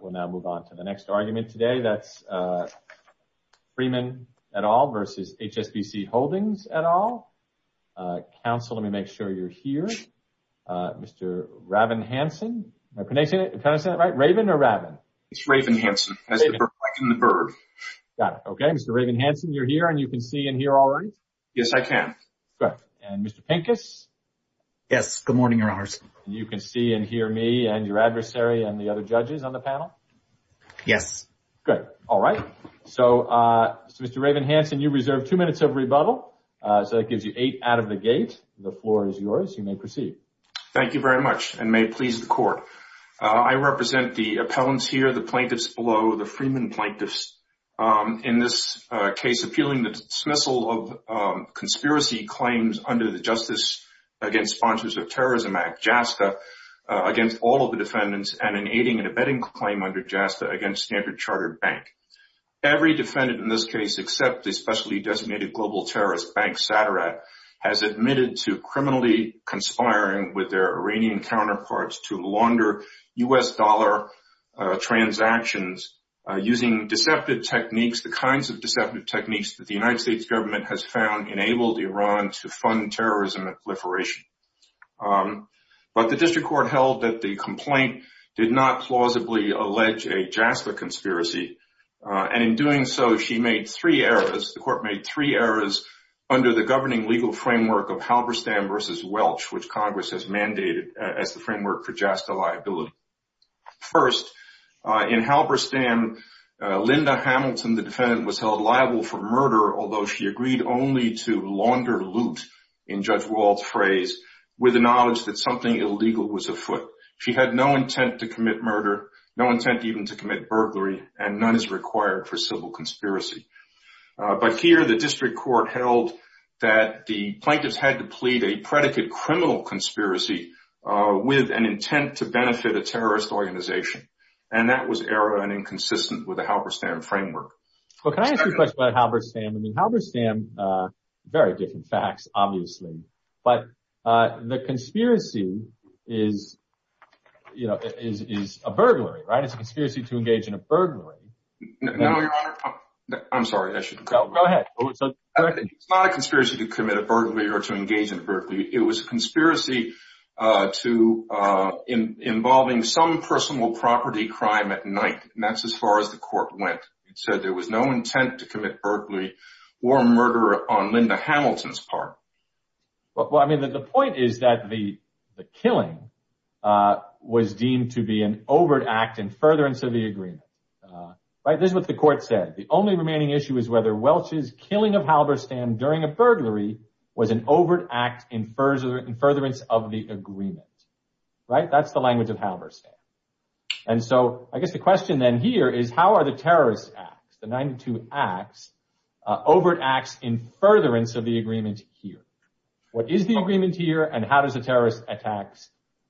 We'll now move on to the next argument today. That's Freeman et al versus HSBC Holdings et al. Counsel, let me make sure you're here. Mr. Raven Hansen. Can I say it right? Raven or Raven? It's Raven Hansen. Like in the bird. Got it. Okay. Mr. Raven Hansen, you're here and you can see and hear already? Yes, I can. Good. And Mr. Pincus? Yes. Good morning, Your Honors. You can see and hear me and your adversary and the other judges on the panel? Yes. Good. All right. So, Mr. Raven Hansen, you reserve two minutes of rebuttal, so that gives you eight out of the gate. The floor is yours. You may proceed. Thank you very much and may it please the Court. I represent the appellants here, the plaintiffs below, the Freeman plaintiffs in this case appealing the dismissal of against all of the defendants and an aiding and abetting claim under JASTA against Standard Chartered Bank. Every defendant in this case, except the specially designated global terrorist bank, SATARAT, has admitted to criminally conspiring with their Iranian counterparts to launder U.S. dollar transactions using deceptive techniques, the kinds of deceptive techniques that the United States government has found enabled Iran to fund terrorism and proliferation. The District Court held that the complaint did not plausibly allege a JASTA conspiracy, and in doing so, the Court made three errors under the governing legal framework of Halberstam v. Welch, which Congress has mandated as the framework for JASTA liability. First, in Halberstam, Linda Hamilton, the defendant, was held liable for murder, although she agreed only to launder loot, in Judge Wald's phrase, with the knowledge that something illegal was afoot. She had no intent to commit murder, no intent even to commit burglary, and none is required for civil conspiracy. But here, the District Court held that the plaintiffs had to plead a predicate criminal conspiracy with an intent to benefit a terrorist organization, and that was error and inconsistent with the Halberstam framework. Well, can I ask you a question about Halberstam? I mean, Halberstam, very different facts, obviously. But the conspiracy is, you know, is a burglary, right? It's a conspiracy to engage in a burglary. No, Your Honor. I'm sorry, I shouldn't go. Go ahead. It's not a conspiracy to commit a burglary or to engage in a burglary. It was a conspiracy to involving some personal property crime at night, and that's as far as the Court went. It said there was no intent to Well, I mean, the point is that the killing was deemed to be an overt act in furtherance of the agreement, right? This is what the Court said. The only remaining issue is whether Welch's killing of Halberstam during a burglary was an overt act in furtherance of the agreement, right? That's the language of Halberstam. And so I guess the question then here is, how are the terrorist acts, the 92 acts, overt acts in furtherance of the agreement here? What is the agreement here, and how does a terrorist attack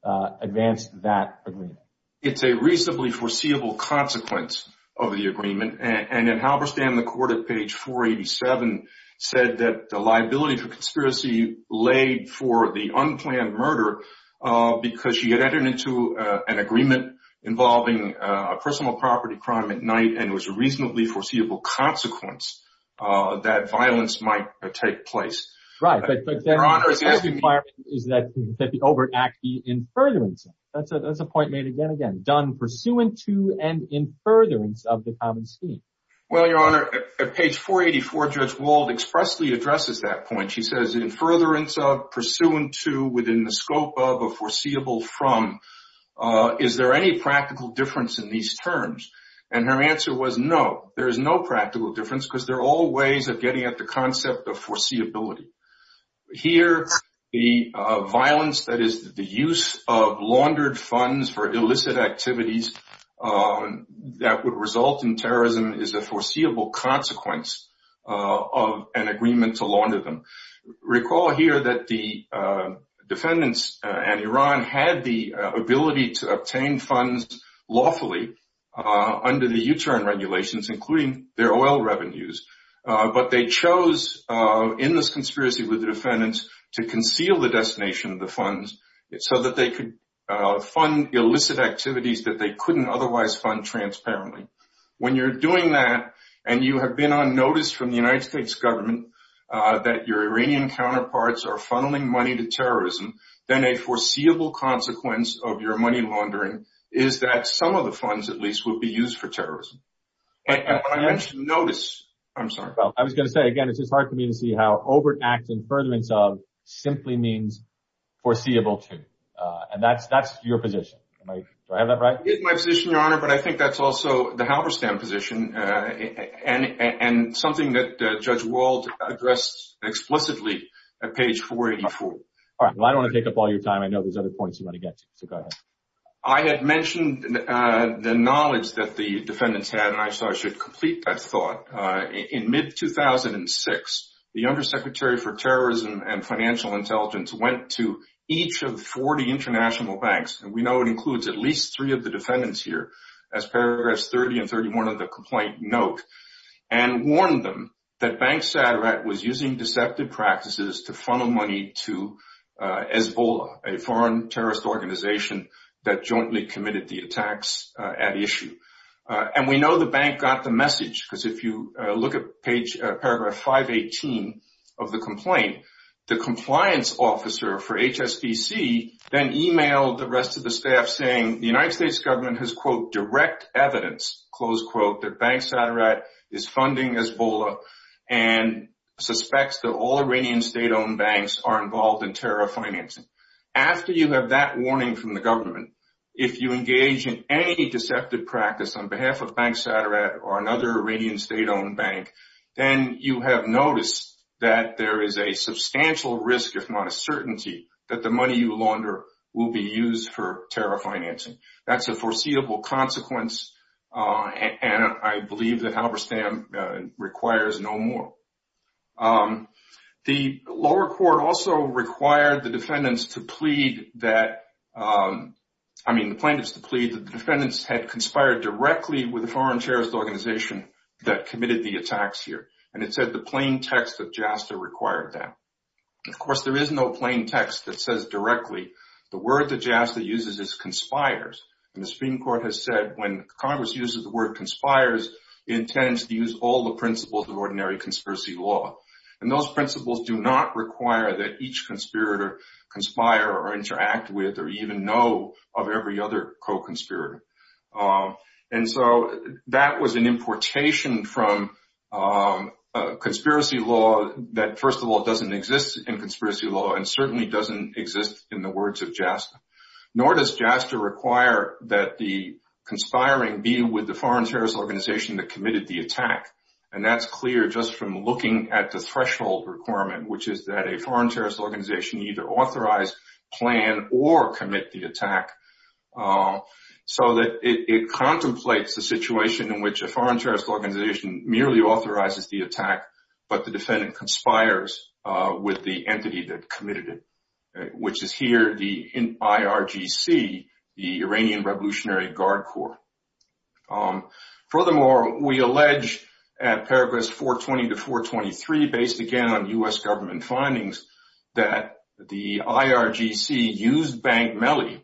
advance that agreement? It's a reasonably foreseeable consequence of the agreement. And in Halberstam, the Court at page 487 said that the liability for conspiracy laid for the unplanned murder because she had entered into an agreement involving a personal property crime at night and was a reasonably foreseeable consequence that violence might take place. Right, but the requirement is that the overt act be in furtherance. That's a point made again and again, done pursuant to and in furtherance of the common scheme. Well, Your Honor, at page 484, Judge Wald expressly addresses that point. She says, in furtherance of, pursuant to, within the scope of, or foreseeable from, is there any practical difference in these terms? And her answer was, no, there is no practical difference because they're all ways of getting at the concept of foreseeability. Here, the violence that is the use of laundered funds for illicit activities that would result in terrorism is a foreseeable consequence of an agreement to launder them. Recall here that the defendants and Iran had the ability to obtain funds lawfully under the U-turn regulations, including their oil revenues. But they chose, in this conspiracy with the defendants, to conceal the destination of the funds so that they could fund illicit activities that they couldn't otherwise fund transparently. When you're doing that and you have been on notice from the United States government that your Iranian counterparts are funneling money to terrorism, then a foreseeable consequence of your money laundering is that some of the funds, at least, will be used for terrorism. And when I mention notice, I'm sorry. Well, I was going to say, again, it's just hard for me to see how overt act in furtherance of simply means foreseeable to. And that's your position. Do I have that right? It is my position, Your Honor, but I think that's also the Halberstam position and something that Judge Wald addressed explicitly at page 484. All right. Well, I don't want to take up all your time. I know there's other points you want to get to, so go ahead. I had mentioned the knowledge that the defendants had, and I should complete that thought. In mid-2006, the Undersecretary for Terrorism and Financial Intelligence went to each of 40 international banks. And we know it includes at least three of the defendants here as paragraphs 30 and 31 of the complaint note, and warned them that Bank Satirat was using deceptive practices to funnel money to EZBOLA, a foreign terrorist organization that jointly committed the attacks at issue. And we know the bank got the message, because if you look at paragraph 518 of the complaint, the compliance officer for HSBC then emailed the staff saying the United States government has, quote, direct evidence, close quote, that Bank Satirat is funding EZBOLA and suspects that all Iranian state-owned banks are involved in terror financing. After you have that warning from the government, if you engage in any deceptive practice on behalf of Bank Satirat or another Iranian state-owned bank, then you have noticed that there is a substantial risk, if not a certainty, that the money you launder will be used for terror financing. That's a foreseeable consequence, and I believe that Halberstam requires no more. The lower court also required the defendants to plead that, I mean the plaintiffs to plead that the defendants had conspired directly with a foreign terrorist organization that committed the attacks here. And it said the plain text of JASTA required that. Of course, there is no plain text that says directly the word that JASTA uses is conspires. And the Supreme Court has said when Congress uses the word conspires, it intends to use all the principles of ordinary conspiracy law. And those principles do not require that each conspirator conspire or from a conspiracy law that, first of all, doesn't exist in conspiracy law and certainly doesn't exist in the words of JASTA. Nor does JASTA require that the conspiring be with the foreign terrorist organization that committed the attack. And that's clear just from looking at the threshold requirement, which is that a foreign terrorist organization either authorize, plan, or commit the attack so that it contemplates the situation in which a foreign terrorist organization merely authorizes the attack, but the defendant conspires with the entity that committed it, which is here the IRGC, the Iranian Revolutionary Guard Corps. Furthermore, we allege at paragraphs 420 to 423, based again on U.S. government findings, that the IRGC used Bank Melly,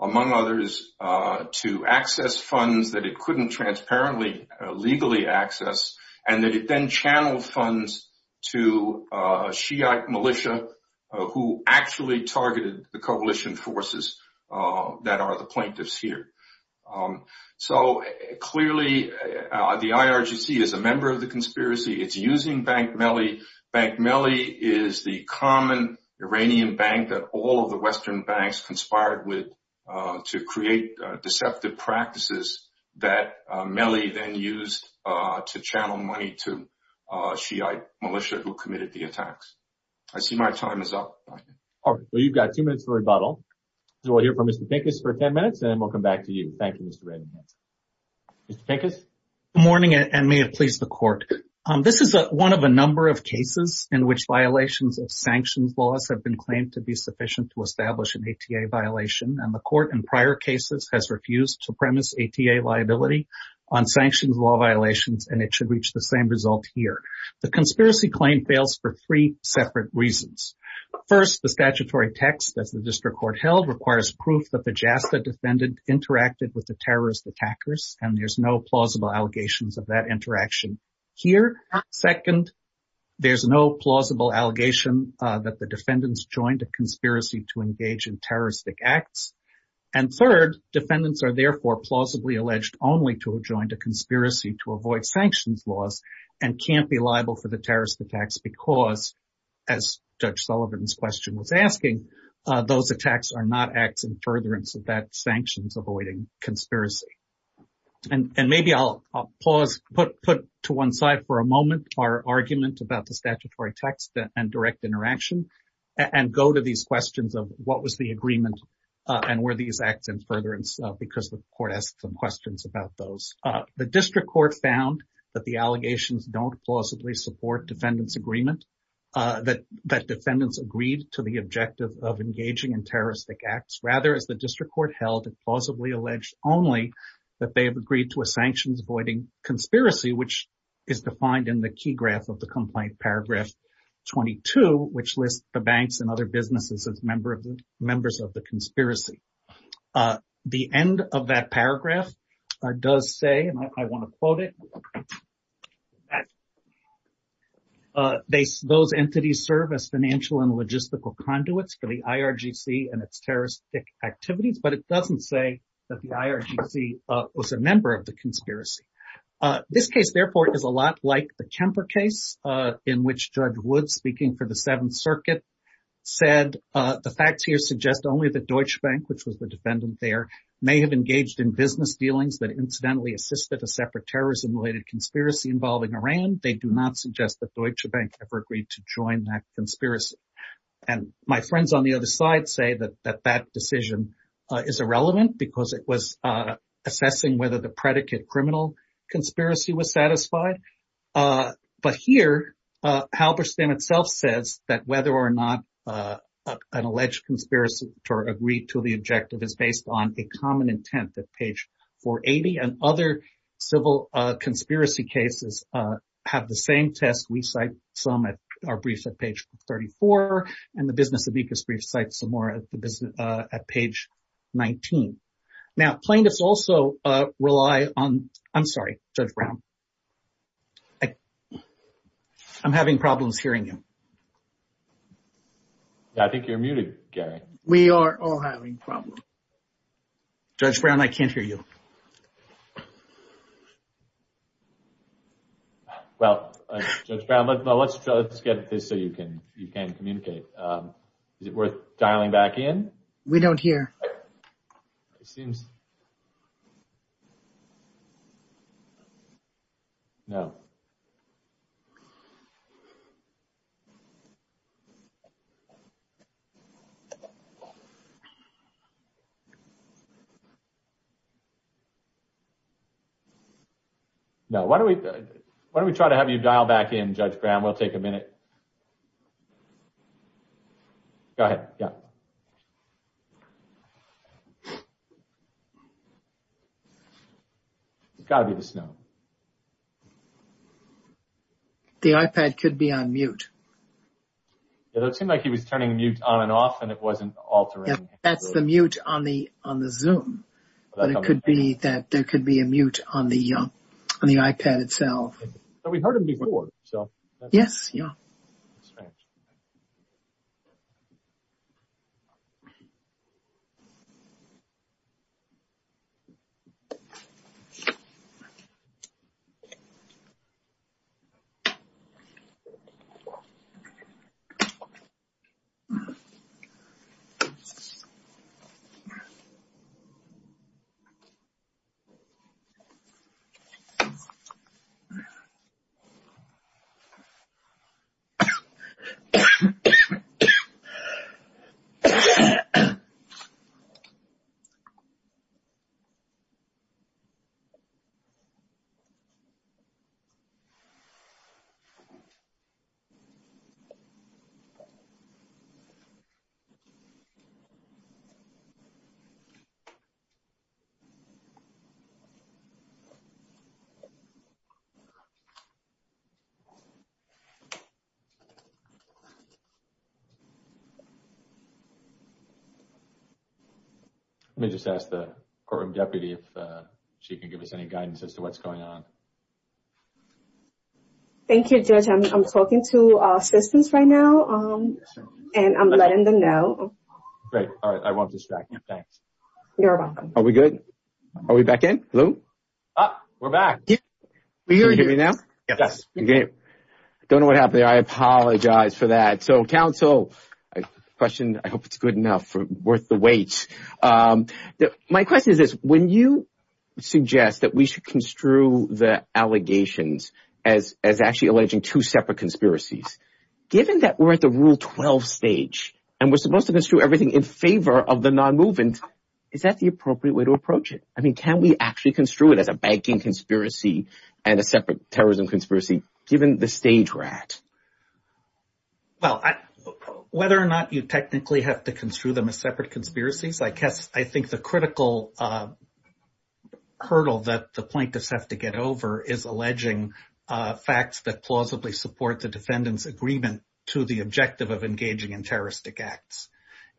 among others, to access funds that it couldn't transparently legally access and that it then channeled funds to a Shiite militia who actually targeted the coalition forces that are the plaintiffs here. So, clearly, the IRGC is a member of the conspiracy. It's using Bank Melly. Bank Melly is the common Iranian bank that all of the Western banks conspired with to create deceptive practices that Melly then used to channel money to Shiite militia who committed the attacks. I see my time is up. All right. Well, you've got two minutes for rebuttal. So, we'll hear from Mr. Pincus for 10 minutes, and then we'll come back to you. Thank you, Mr. Redding. Mr. Pincus? Good morning, and may it please the court. This is one of a number of cases in which violations of sanctions laws have been claimed to be sufficient to establish an ATA violation, and the court in prior cases has refused to premise ATA liability on sanctions law violations, and it should reach the same result here. The conspiracy claim fails for three separate reasons. First, the statutory text, as the district court held, requires proof that the JASTA defendant interacted with the terrorist attackers, and there's no plausible allegations of that interaction here. Second, there's no plausible allegation that the defendants joined a conspiracy to engage in terroristic acts. And third, defendants are therefore plausibly alleged only to have joined a conspiracy to avoid sanctions laws and can't be liable for the as Judge Sullivan's question was asking, those attacks are not acts in furtherance of that sanctions avoiding conspiracy. And maybe I'll pause, put to one side for a moment our argument about the statutory text and direct interaction, and go to these questions of what was the agreement and were these acts in furtherance because the court asked some questions about those. The district court found that the allegations don't plausibly support defendant's agreement. That defendants agreed to the objective of engaging in terroristic acts. Rather, as the district court held, it plausibly alleged only that they have agreed to a sanctions avoiding conspiracy, which is defined in the key graph of the complaint, paragraph 22, which lists the banks and other businesses as members of the conspiracy. The end of that paragraph does say, and I want to quote it, that those entities serve as financial and logistical conduits for the IRGC and its terroristic activities, but it doesn't say that the IRGC was a member of the conspiracy. This case, therefore, is a lot like the Kemper case in which Judge Wood, speaking for the Seventh Circuit, said the facts here suggest only that Deutsche Bank, which was the defendant there, may have engaged in business dealings that incidentally assisted a separate terrorism- related conspiracy involving Iran. They do not suggest that Deutsche Bank ever agreed to join that conspiracy, and my friends on the other side say that that decision is irrelevant because it was assessing whether the predicate criminal conspiracy was satisfied, but here Halberstam itself says that whether or not an alleged conspirator agreed to the objective is based on a common intent at page 480, and other civil conspiracy cases have the same test. We cite some at our briefs at page 34, and the Business of Ecos brief cites some more at page 19. Now, plaintiffs also rely on... I'm sorry, Judge Brown. I'm having problems hearing you. Yeah, I think you're muted, Gary. We are all having problems. Judge Brown, I can't hear you. Well, Judge Brown, let's get this so you can communicate. Is it worth dialing back in? We don't hear. Seems... No. No. Why don't we try to have you dial back in, Judge Brown? We'll take a minute. Go ahead. Yeah. It's got to be the snow. The iPad could be on mute. It seemed like he was turning mute on and off, and it wasn't altering. That's the mute on the Zoom, but it could be that there could be a mute on the iPad itself. But we've heard it before, so... Yes, yeah. Courtroom deputy, if she can give us any guidance as to what's going on. Thank you, Judge. I'm talking to assistants right now, and I'm letting them know. Great. All right. I won't distract you. Thanks. You're welcome. Are we good? Are we back in? Hello? Ah, we're back. Can you hear me now? Yes. I don't know what happened there. I apologize for that. So, counsel, the question, I hope it's good enough, worth the wait. Um, my question is this. When you suggest that we should construe the allegations as actually alleging two separate conspiracies, given that we're at the Rule 12 stage, and we're supposed to construe everything in favor of the non-movement, is that the appropriate way to approach it? I mean, can we actually construe it as a banking conspiracy and a separate terrorism conspiracy, given the stage we're at? Well, whether or not you technically have to construe them as separate conspiracies, I guess I think the critical hurdle that the plaintiffs have to get over is alleging facts that plausibly support the defendant's agreement to the objective of engaging in terroristic acts.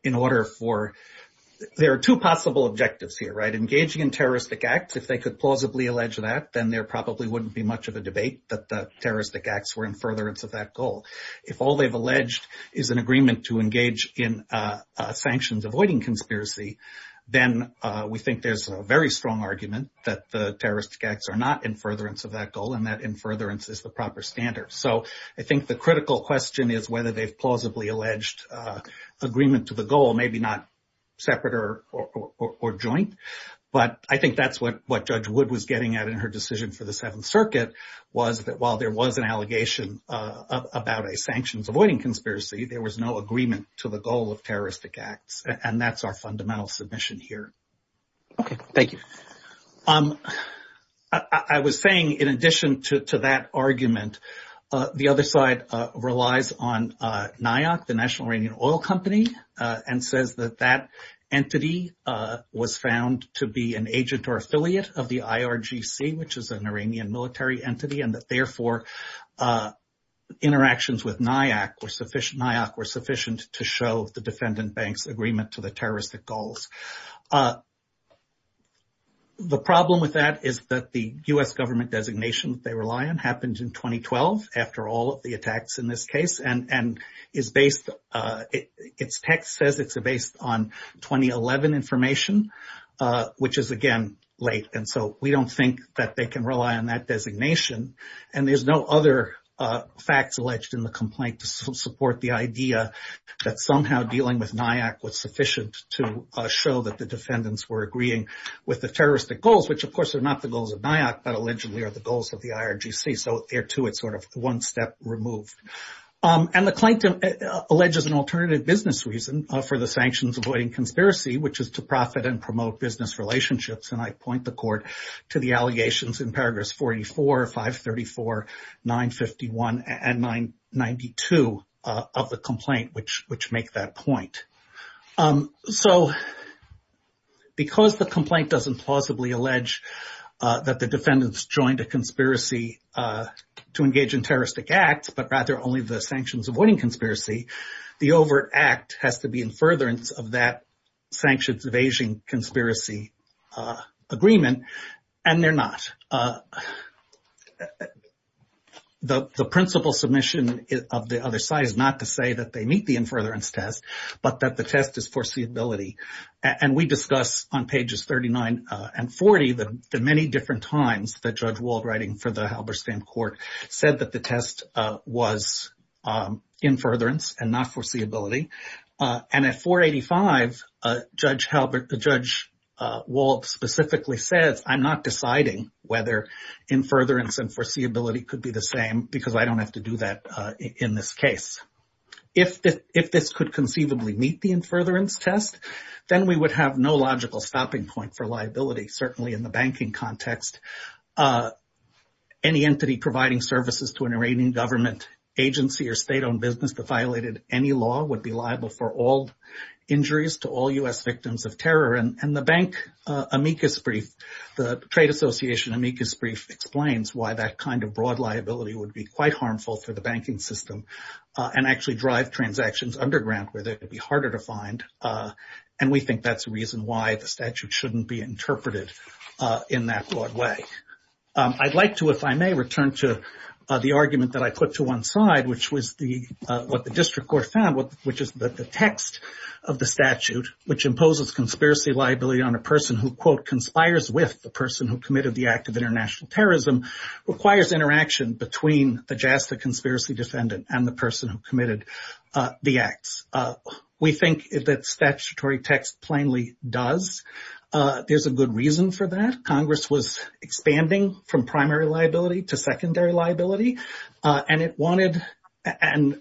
In order for — there are two possible objectives here, right? Engaging in terroristic acts, if they could plausibly allege that, then there probably wouldn't be much of a debate that the terroristic acts were in furtherance of that goal. If all they've alleged is an agreement to engage in sanctions avoiding conspiracy, then we think there's a very strong argument that the terroristic acts are not in furtherance of that goal, and that in furtherance is the proper standard. So I think the critical question is whether they've plausibly alleged agreement to the goal, maybe not separate or joint. But I think that's what Judge Wood was getting at in her decision for the Seventh Circuit, was that while there was an allegation about a sanctions-avoiding conspiracy, there was no agreement to the goal of terroristic acts. And that's our fundamental submission here. Okay, thank you. I was saying, in addition to that argument, the other side relies on NIOC, the National Iranian Oil Company, and says that that entity was found to be an agent or affiliate of the IRGC, which is an Iranian military entity, and that therefore interactions with NIOC were sufficient to show the defendant bank's agreement to the terroristic goals. The problem with that is that the U.S. government designation they rely on happened in 2012, after all of the attacks in this case, and its text says it's based on 2011 information, which is, again, late. And so we don't think that they can rely on that designation. And there's no other facts alleged in the complaint to support the idea that somehow dealing with NIOC was sufficient to show that the defendants were agreeing with the terroristic goals, which, of course, are not the goals of NIOC, but allegedly are the goals of the IRGC. So there, too, it's sort of one step removed. And the claim alleges an alternative business reason for the sanctions-avoiding conspiracy, which is to profit and promote business relationships. And I point the court to the allegations in paragraphs 44, 534, 951, and 992 of the complaint, which make that point. So because the complaint doesn't plausibly allege that the defendants joined a conspiracy to engage in terroristic acts, but rather only the sanctions-avoiding conspiracy, the overt act has to be in furtherance of that sanctions-evasion conspiracy agreement, and they're not. The principal submission of the other side is not to say that they meet the in furtherance test, but that the test is foreseeability. And we discuss on pages 39 and 40 the many different times that Judge Wald, writing for the Halberstam Court, said that the test was in furtherance and not foreseeability. And at 485, Judge Wald specifically says, I'm not deciding whether in furtherance and foreseeability could be the same, because I don't have to do that in this case. If this could conceivably meet the in furtherance test, then we would have no logical stopping point for liability, certainly in the banking context. Any entity providing services to an Iranian government agency or state-owned business that violated any law would be liable for all injuries to all U.S. victims of terror. And the bank amicus brief, the trade association amicus brief, explains why that kind of broad liability would be quite harmful for the banking system and actually drive transactions underground where they'd be harder to find. And we think that's a reason why the statute shouldn't be interpreted in that broad way. I'd like to, if I may, return to the argument that I put to one side, which was what the district court found, which is that the text of the statute, which imposes conspiracy liability on a person who, quote, conspires with the person who committed the act of international terrorism, requires interaction between the JASTA conspiracy defendant and the person who committed the acts. We think that statutory text plainly does. There's a good reason for that. Congress was expanding from primary liability to secondary liability, and it wanted, and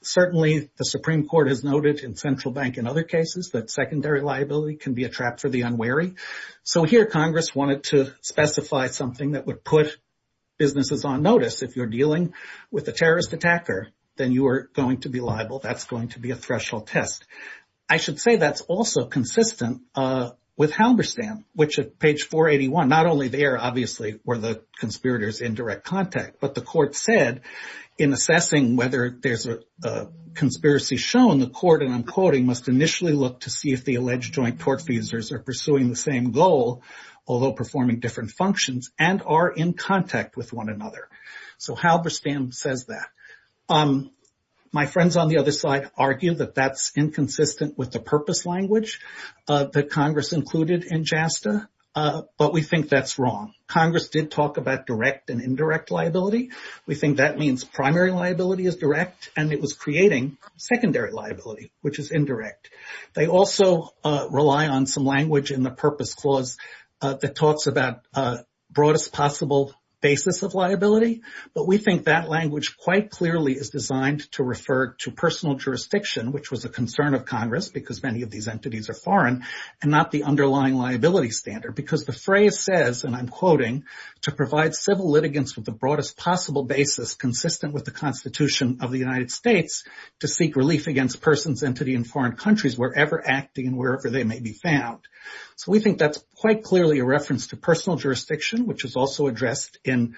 certainly the Supreme Court has noted in Central Bank and other cases that secondary liability can be a trap for the unwary. So here Congress wanted to specify something that would put businesses on notice. If you're dealing with a terrorist attacker, then you are going to be liable. That's going to be a threshold test. I should say that's also consistent with Halberstam, which at page 481, not only there, obviously, were the conspirators in direct contact, but the court said in assessing whether there's a conspiracy shown, the court, and I'm quoting, must initially look to see if the alleged joint tortfeasors are pursuing the same goal, although performing different functions, and are in contact with one another. So Halberstam says that. My friends on the other side argue that that's inconsistent with the purpose language that Congress included in JASTA, but we think that's wrong. Congress did talk about direct and indirect liability. We think that means primary liability is direct, and it was creating secondary liability, which is indirect. They also rely on some language in the Purpose Clause that talks about broadest possible basis of liability, but we think that language quite clearly is designed to refer to personal jurisdiction, which was a concern of Congress because many of these entities are foreign, and not the underlying liability standard, because the phrase says, and I'm quoting, to provide civil litigants with the broadest possible basis consistent with the Constitution of the United States to seek relief against persons, entity, and foreign countries wherever acting and wherever they may be found. So we think that's quite clearly a reference to personal jurisdiction, which is also addressed in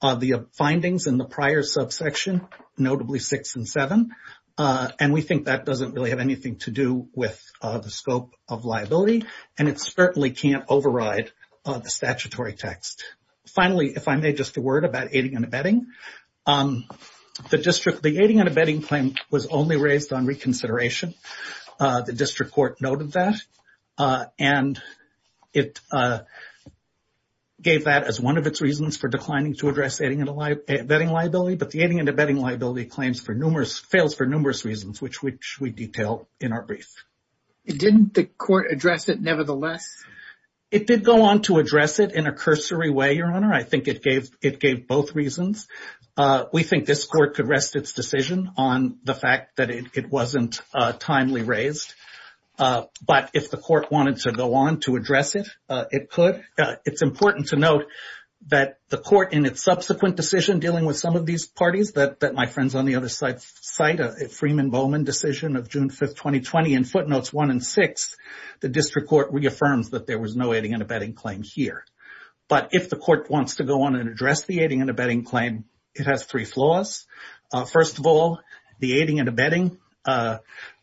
the findings in the prior subsection, notably six and seven, and we think that doesn't really have anything to do with the scope of liability, and it certainly can't override the statutory text. Finally, if I may, just a word about aiding and abetting. The district, the aiding and abetting claim was only raised on reconsideration. The district court noted that, and it gave that as one of its reasons for declining to address aiding and abetting liability, but the aiding and abetting liability claims for numerous, fails for numerous reasons, which we detail in our brief. Didn't the court address it nevertheless? It did go on to address it in a cursory way, Your Honor. I think it gave both reasons. We think this court could rest its decision on the fact that it wasn't timely raised, but if the court wanted to go on to address it, it could. It's important to note that the court in its subsequent decision dealing with some of these parties that my friends on the other side cite, Freeman Bowman decision of June 5th, 2020, in footnotes one and six, the district court reaffirms that there was no aiding and abetting claim here. But if the court wants to go on and address the aiding and abetting claim, it has three flaws. First of all, the aiding and abetting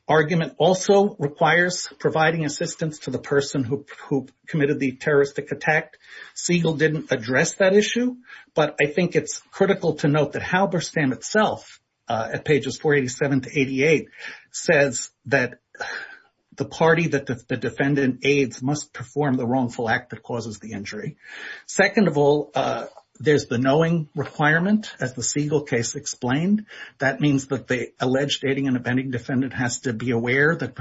argument also requires providing assistance to the person who committed the terroristic attack. Siegel didn't address that issue, but I think it's critical to note that Halberstam itself, at pages 487 to 88, says that the party that the defendant aids must perform the wrongful act that causes the injury. Second of all, there's the knowing requirement, as the Siegel case explained. That means that the alleged aiding and abetting defendant has to be aware that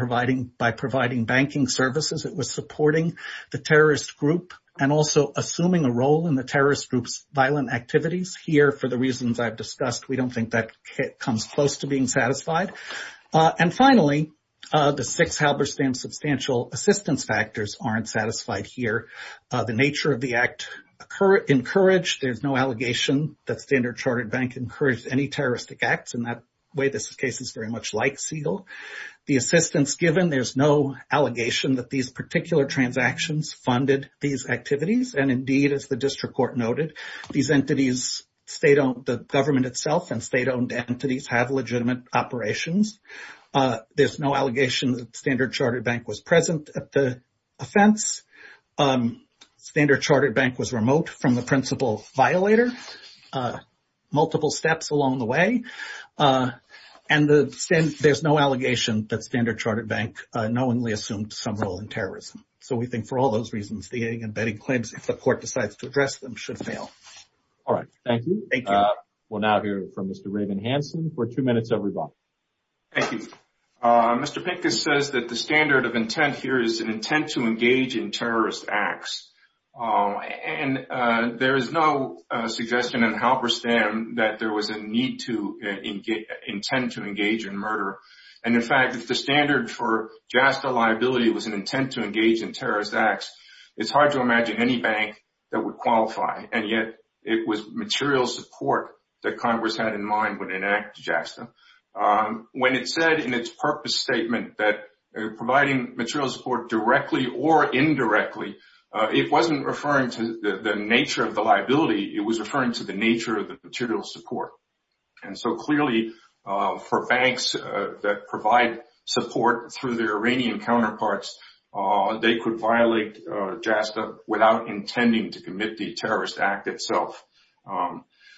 by providing banking services, it was supporting the terrorist group and also assuming a role in the terrorist group's violent activities. Here, for the reasons I've discussed, we don't think that comes close to being satisfied. And finally, the six Halberstam substantial assistance factors aren't satisfied here. The nature of the act encouraged. There's no allegation that Standard Chartered Bank encouraged any terroristic acts. In that way, this case is very much like Siegel. The assistance given, there's no allegation that these particular transactions funded these activities. And indeed, as the district court noted, these entities, the government itself and state-owned entities have legitimate operations. There's no allegation that Standard Chartered Bank was present at the offense. Standard Chartered Bank was remote from the principal violator, multiple steps along the way. And there's no allegation that Standard Chartered Bank knowingly assumed some role in terrorism. So we think for all those reasons, the aiding and abetting claims, if the court decides to address them, should fail. All right, thank you. Thank you. We'll now hear from Mr. Raven Hansen for two minutes everybody. Thank you. Mr. Pincus says that the standard of intent here is an intent to engage in terrorist acts. And there is no suggestion in Halberstam that there was a need to intend to engage in murder. And in fact, if the standard for JASTA liability was an intent to engage in terrorist acts, it's hard to imagine any bank that would qualify. And yet it was material support that Congress had in mind when it enacted JASTA. When it said in its purpose statement that providing material support directly or indirectly, it wasn't referring to the nature of the liability, it was referring to the nature of the material support. And so clearly for banks that provide support through their Iranian counterparts, they could violate JASTA without intending to commit the terrorist act itself.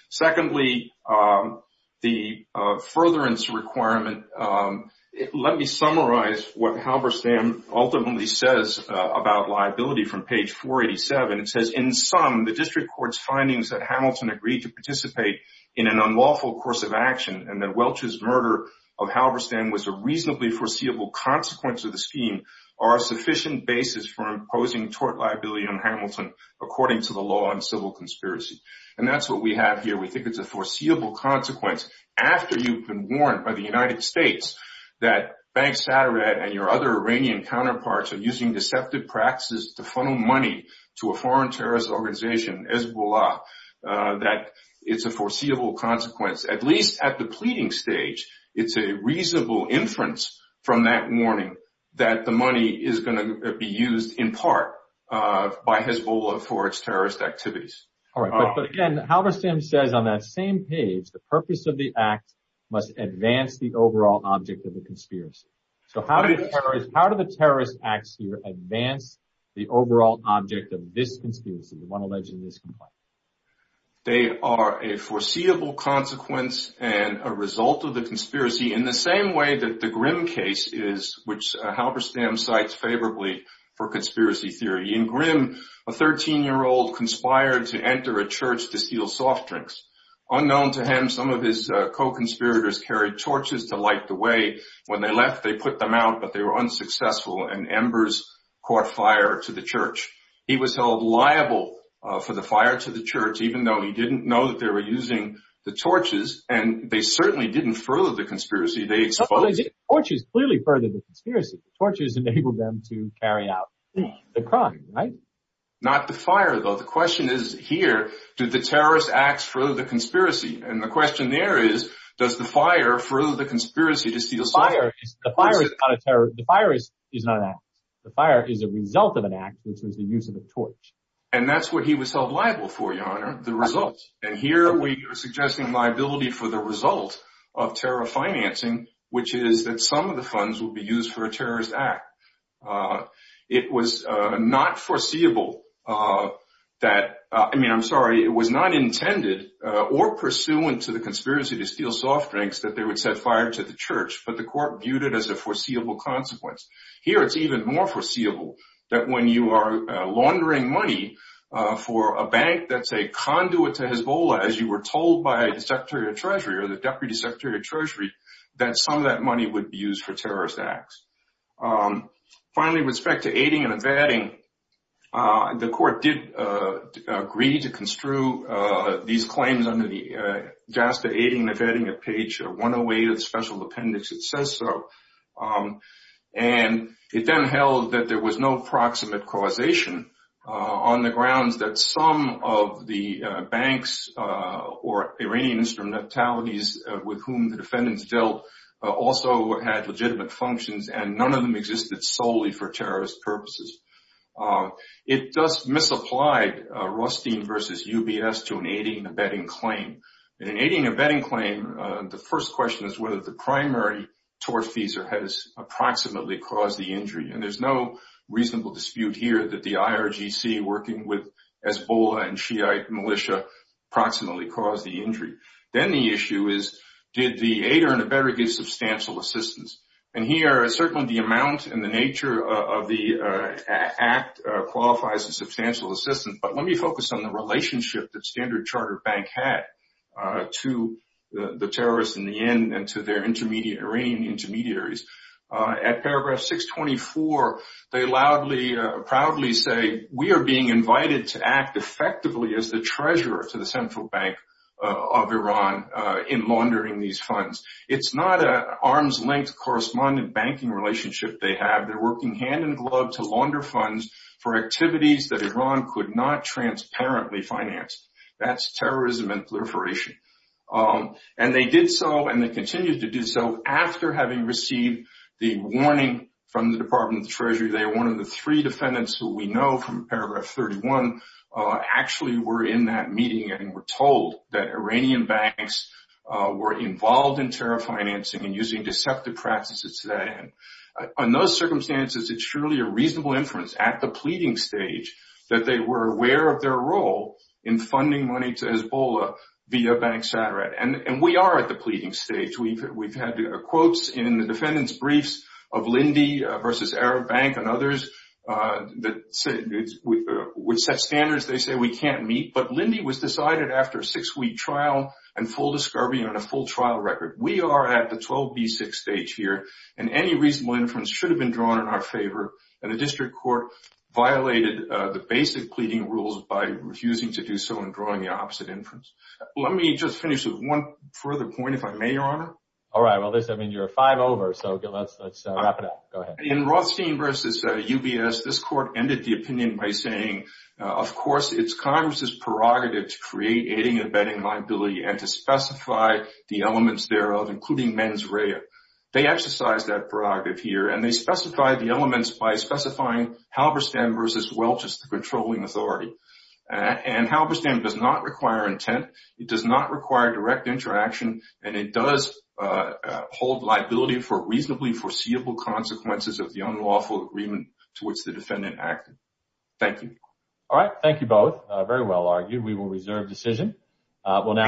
Secondly, the furtherance requirement, let me summarize what Halberstam ultimately says about liability from page 487. It says, in sum, the district court's findings that Hamilton agreed to participate in an unlawful course of action and that Welch's murder of Halberstam was a reasonably foreseeable consequence of the scheme are a sufficient basis for imposing tort liability on Hamilton according to the law on civil conspiracy. And that's what we have here. We think it's a foreseeable consequence after you've been warned by the United States that Bank Sateret and your other Iranian counterparts are using deceptive practices to funnel money to a foreign terrorist organization, Hezbollah, that it's a foreseeable consequence. At least at the pleading stage, it's a reasonable inference from that warning that the money is going to be used in part by Hezbollah for its terrorist activities. All right, but again, Halberstam says on that same page, the purpose of the act must advance the overall object of the conspiracy. So how do the terrorist acts here advance the overall object of this conspiracy, one alleged in this complaint? They are a foreseeable consequence and a result of the conspiracy in the same way that the Grimm case is, which Halberstam cites favorably for conspiracy theory. In Grimm, a 13-year-old conspired to enter a church to steal soft drinks. Unknown to him, some of his co-conspirators carried torches to light the way. When they left, they put them out, but they were unsuccessful and embers caught fire to the church. He was held liable for the fire to the church, even though he didn't know that they were using the torches and they certainly didn't further the conspiracy. Torches clearly furthered the conspiracy. Torches enabled them to carry out the crime, right? Not the fire, though. The question is here, did the terrorist acts further the conspiracy? And the question there is, does the fire further the conspiracy to steal soft drinks? The fire is not an act. The fire is a result of an act, which was the use of a torch. And that's what he was held liable for, Your Honor, the result. And here we are suggesting liability for the result of terror financing, which is that some of the funds would be used for a terrorist act. It was not foreseeable that, I mean, I'm sorry, it was not intended or pursuant to the conspiracy to steal soft drinks that they would set fire to the church, but the court viewed it as a foreseeable consequence. Here it's even more foreseeable that when you are laundering money for a bank that's a conduit to Hezbollah, as you were told by the Secretary of Treasury or the Deputy Secretary of Treasury, that some of that money would be used for terrorist acts. Finally, with respect to aiding and abetting, the court did agree to construe these claims under the JASTA aiding and abetting of page 108 of the Special Appendix. It says so. And it then held that there was no proximate causation on the grounds that some of the banks or Iranian instrumentalities with whom the defendants dealt also had legitimate functions and none of them existed solely for terrorist purposes. It thus misapplied Rostein versus UBS to an aiding and abetting claim. In an aiding and abetting claim, the first question is whether the primary tortfeasor has approximately caused the injury. And there's no reasonable dispute here that the IRGC working with Hezbollah and Shiite militia approximately caused the injury. Then the issue is, did the aider and abetter get substantial assistance? And here, certainly the amount and the nature of the act qualifies as substantial assistance. But let me focus on the relationship that Standard Chartered Bank had to the terrorists in the end and to their Iranian intermediaries. At paragraph 624, they loudly, proudly say, we are being invited to act effectively as the treasurer to the Central Bank of Iran in laundering these funds. It's not an arms-length correspondent banking relationship they have. They're working hand-in-glove to launder funds for activities that Iran could not transparently finance. That's terrorism and proliferation. And they did so and they continue to do so after having received the warning from the Department of the Treasury. They are one of the three defendants who we know from paragraph 31 actually were in that meeting and were told that Iranian banks were involved in terror financing and using deceptive practices to that end. On those circumstances, it's surely a reasonable inference at the pleading stage that they were aware of their role in funding money to Hezbollah via bank satire. And we are at the pleading stage. We've had quotes in the defendant's briefs of Lindy versus Arab Bank and others that would set standards they say we can't meet. But Lindy was decided after a six-week trial and full discovery and a full trial record. We are at the 12B6 stage here and any reasonable inference should have been drawn in our favor. And the district court violated the basic pleading rules by refusing to do so and drawing the opposite inference. Let me just finish with one further point, if I may, Your Honor. All right. Well, listen, I mean, you're five over. So let's wrap it up. Go ahead. In Rothstein versus UBS, this court ended the opinion by saying, of course, it's Congress's prerogative to create aiding and abetting liability and to specify the elements thereof, including mens rea. They exercise that prerogative here and they specify the elements by specifying Halberstam versus Welch as the controlling authority. And Halberstam does not require intent. It does not require direct interaction. And it does hold liability for reasonably foreseeable consequences of the unlawful agreement towards the defendant acted. Thank you. All right. Thank you both. Very well argued. We will reserve decision.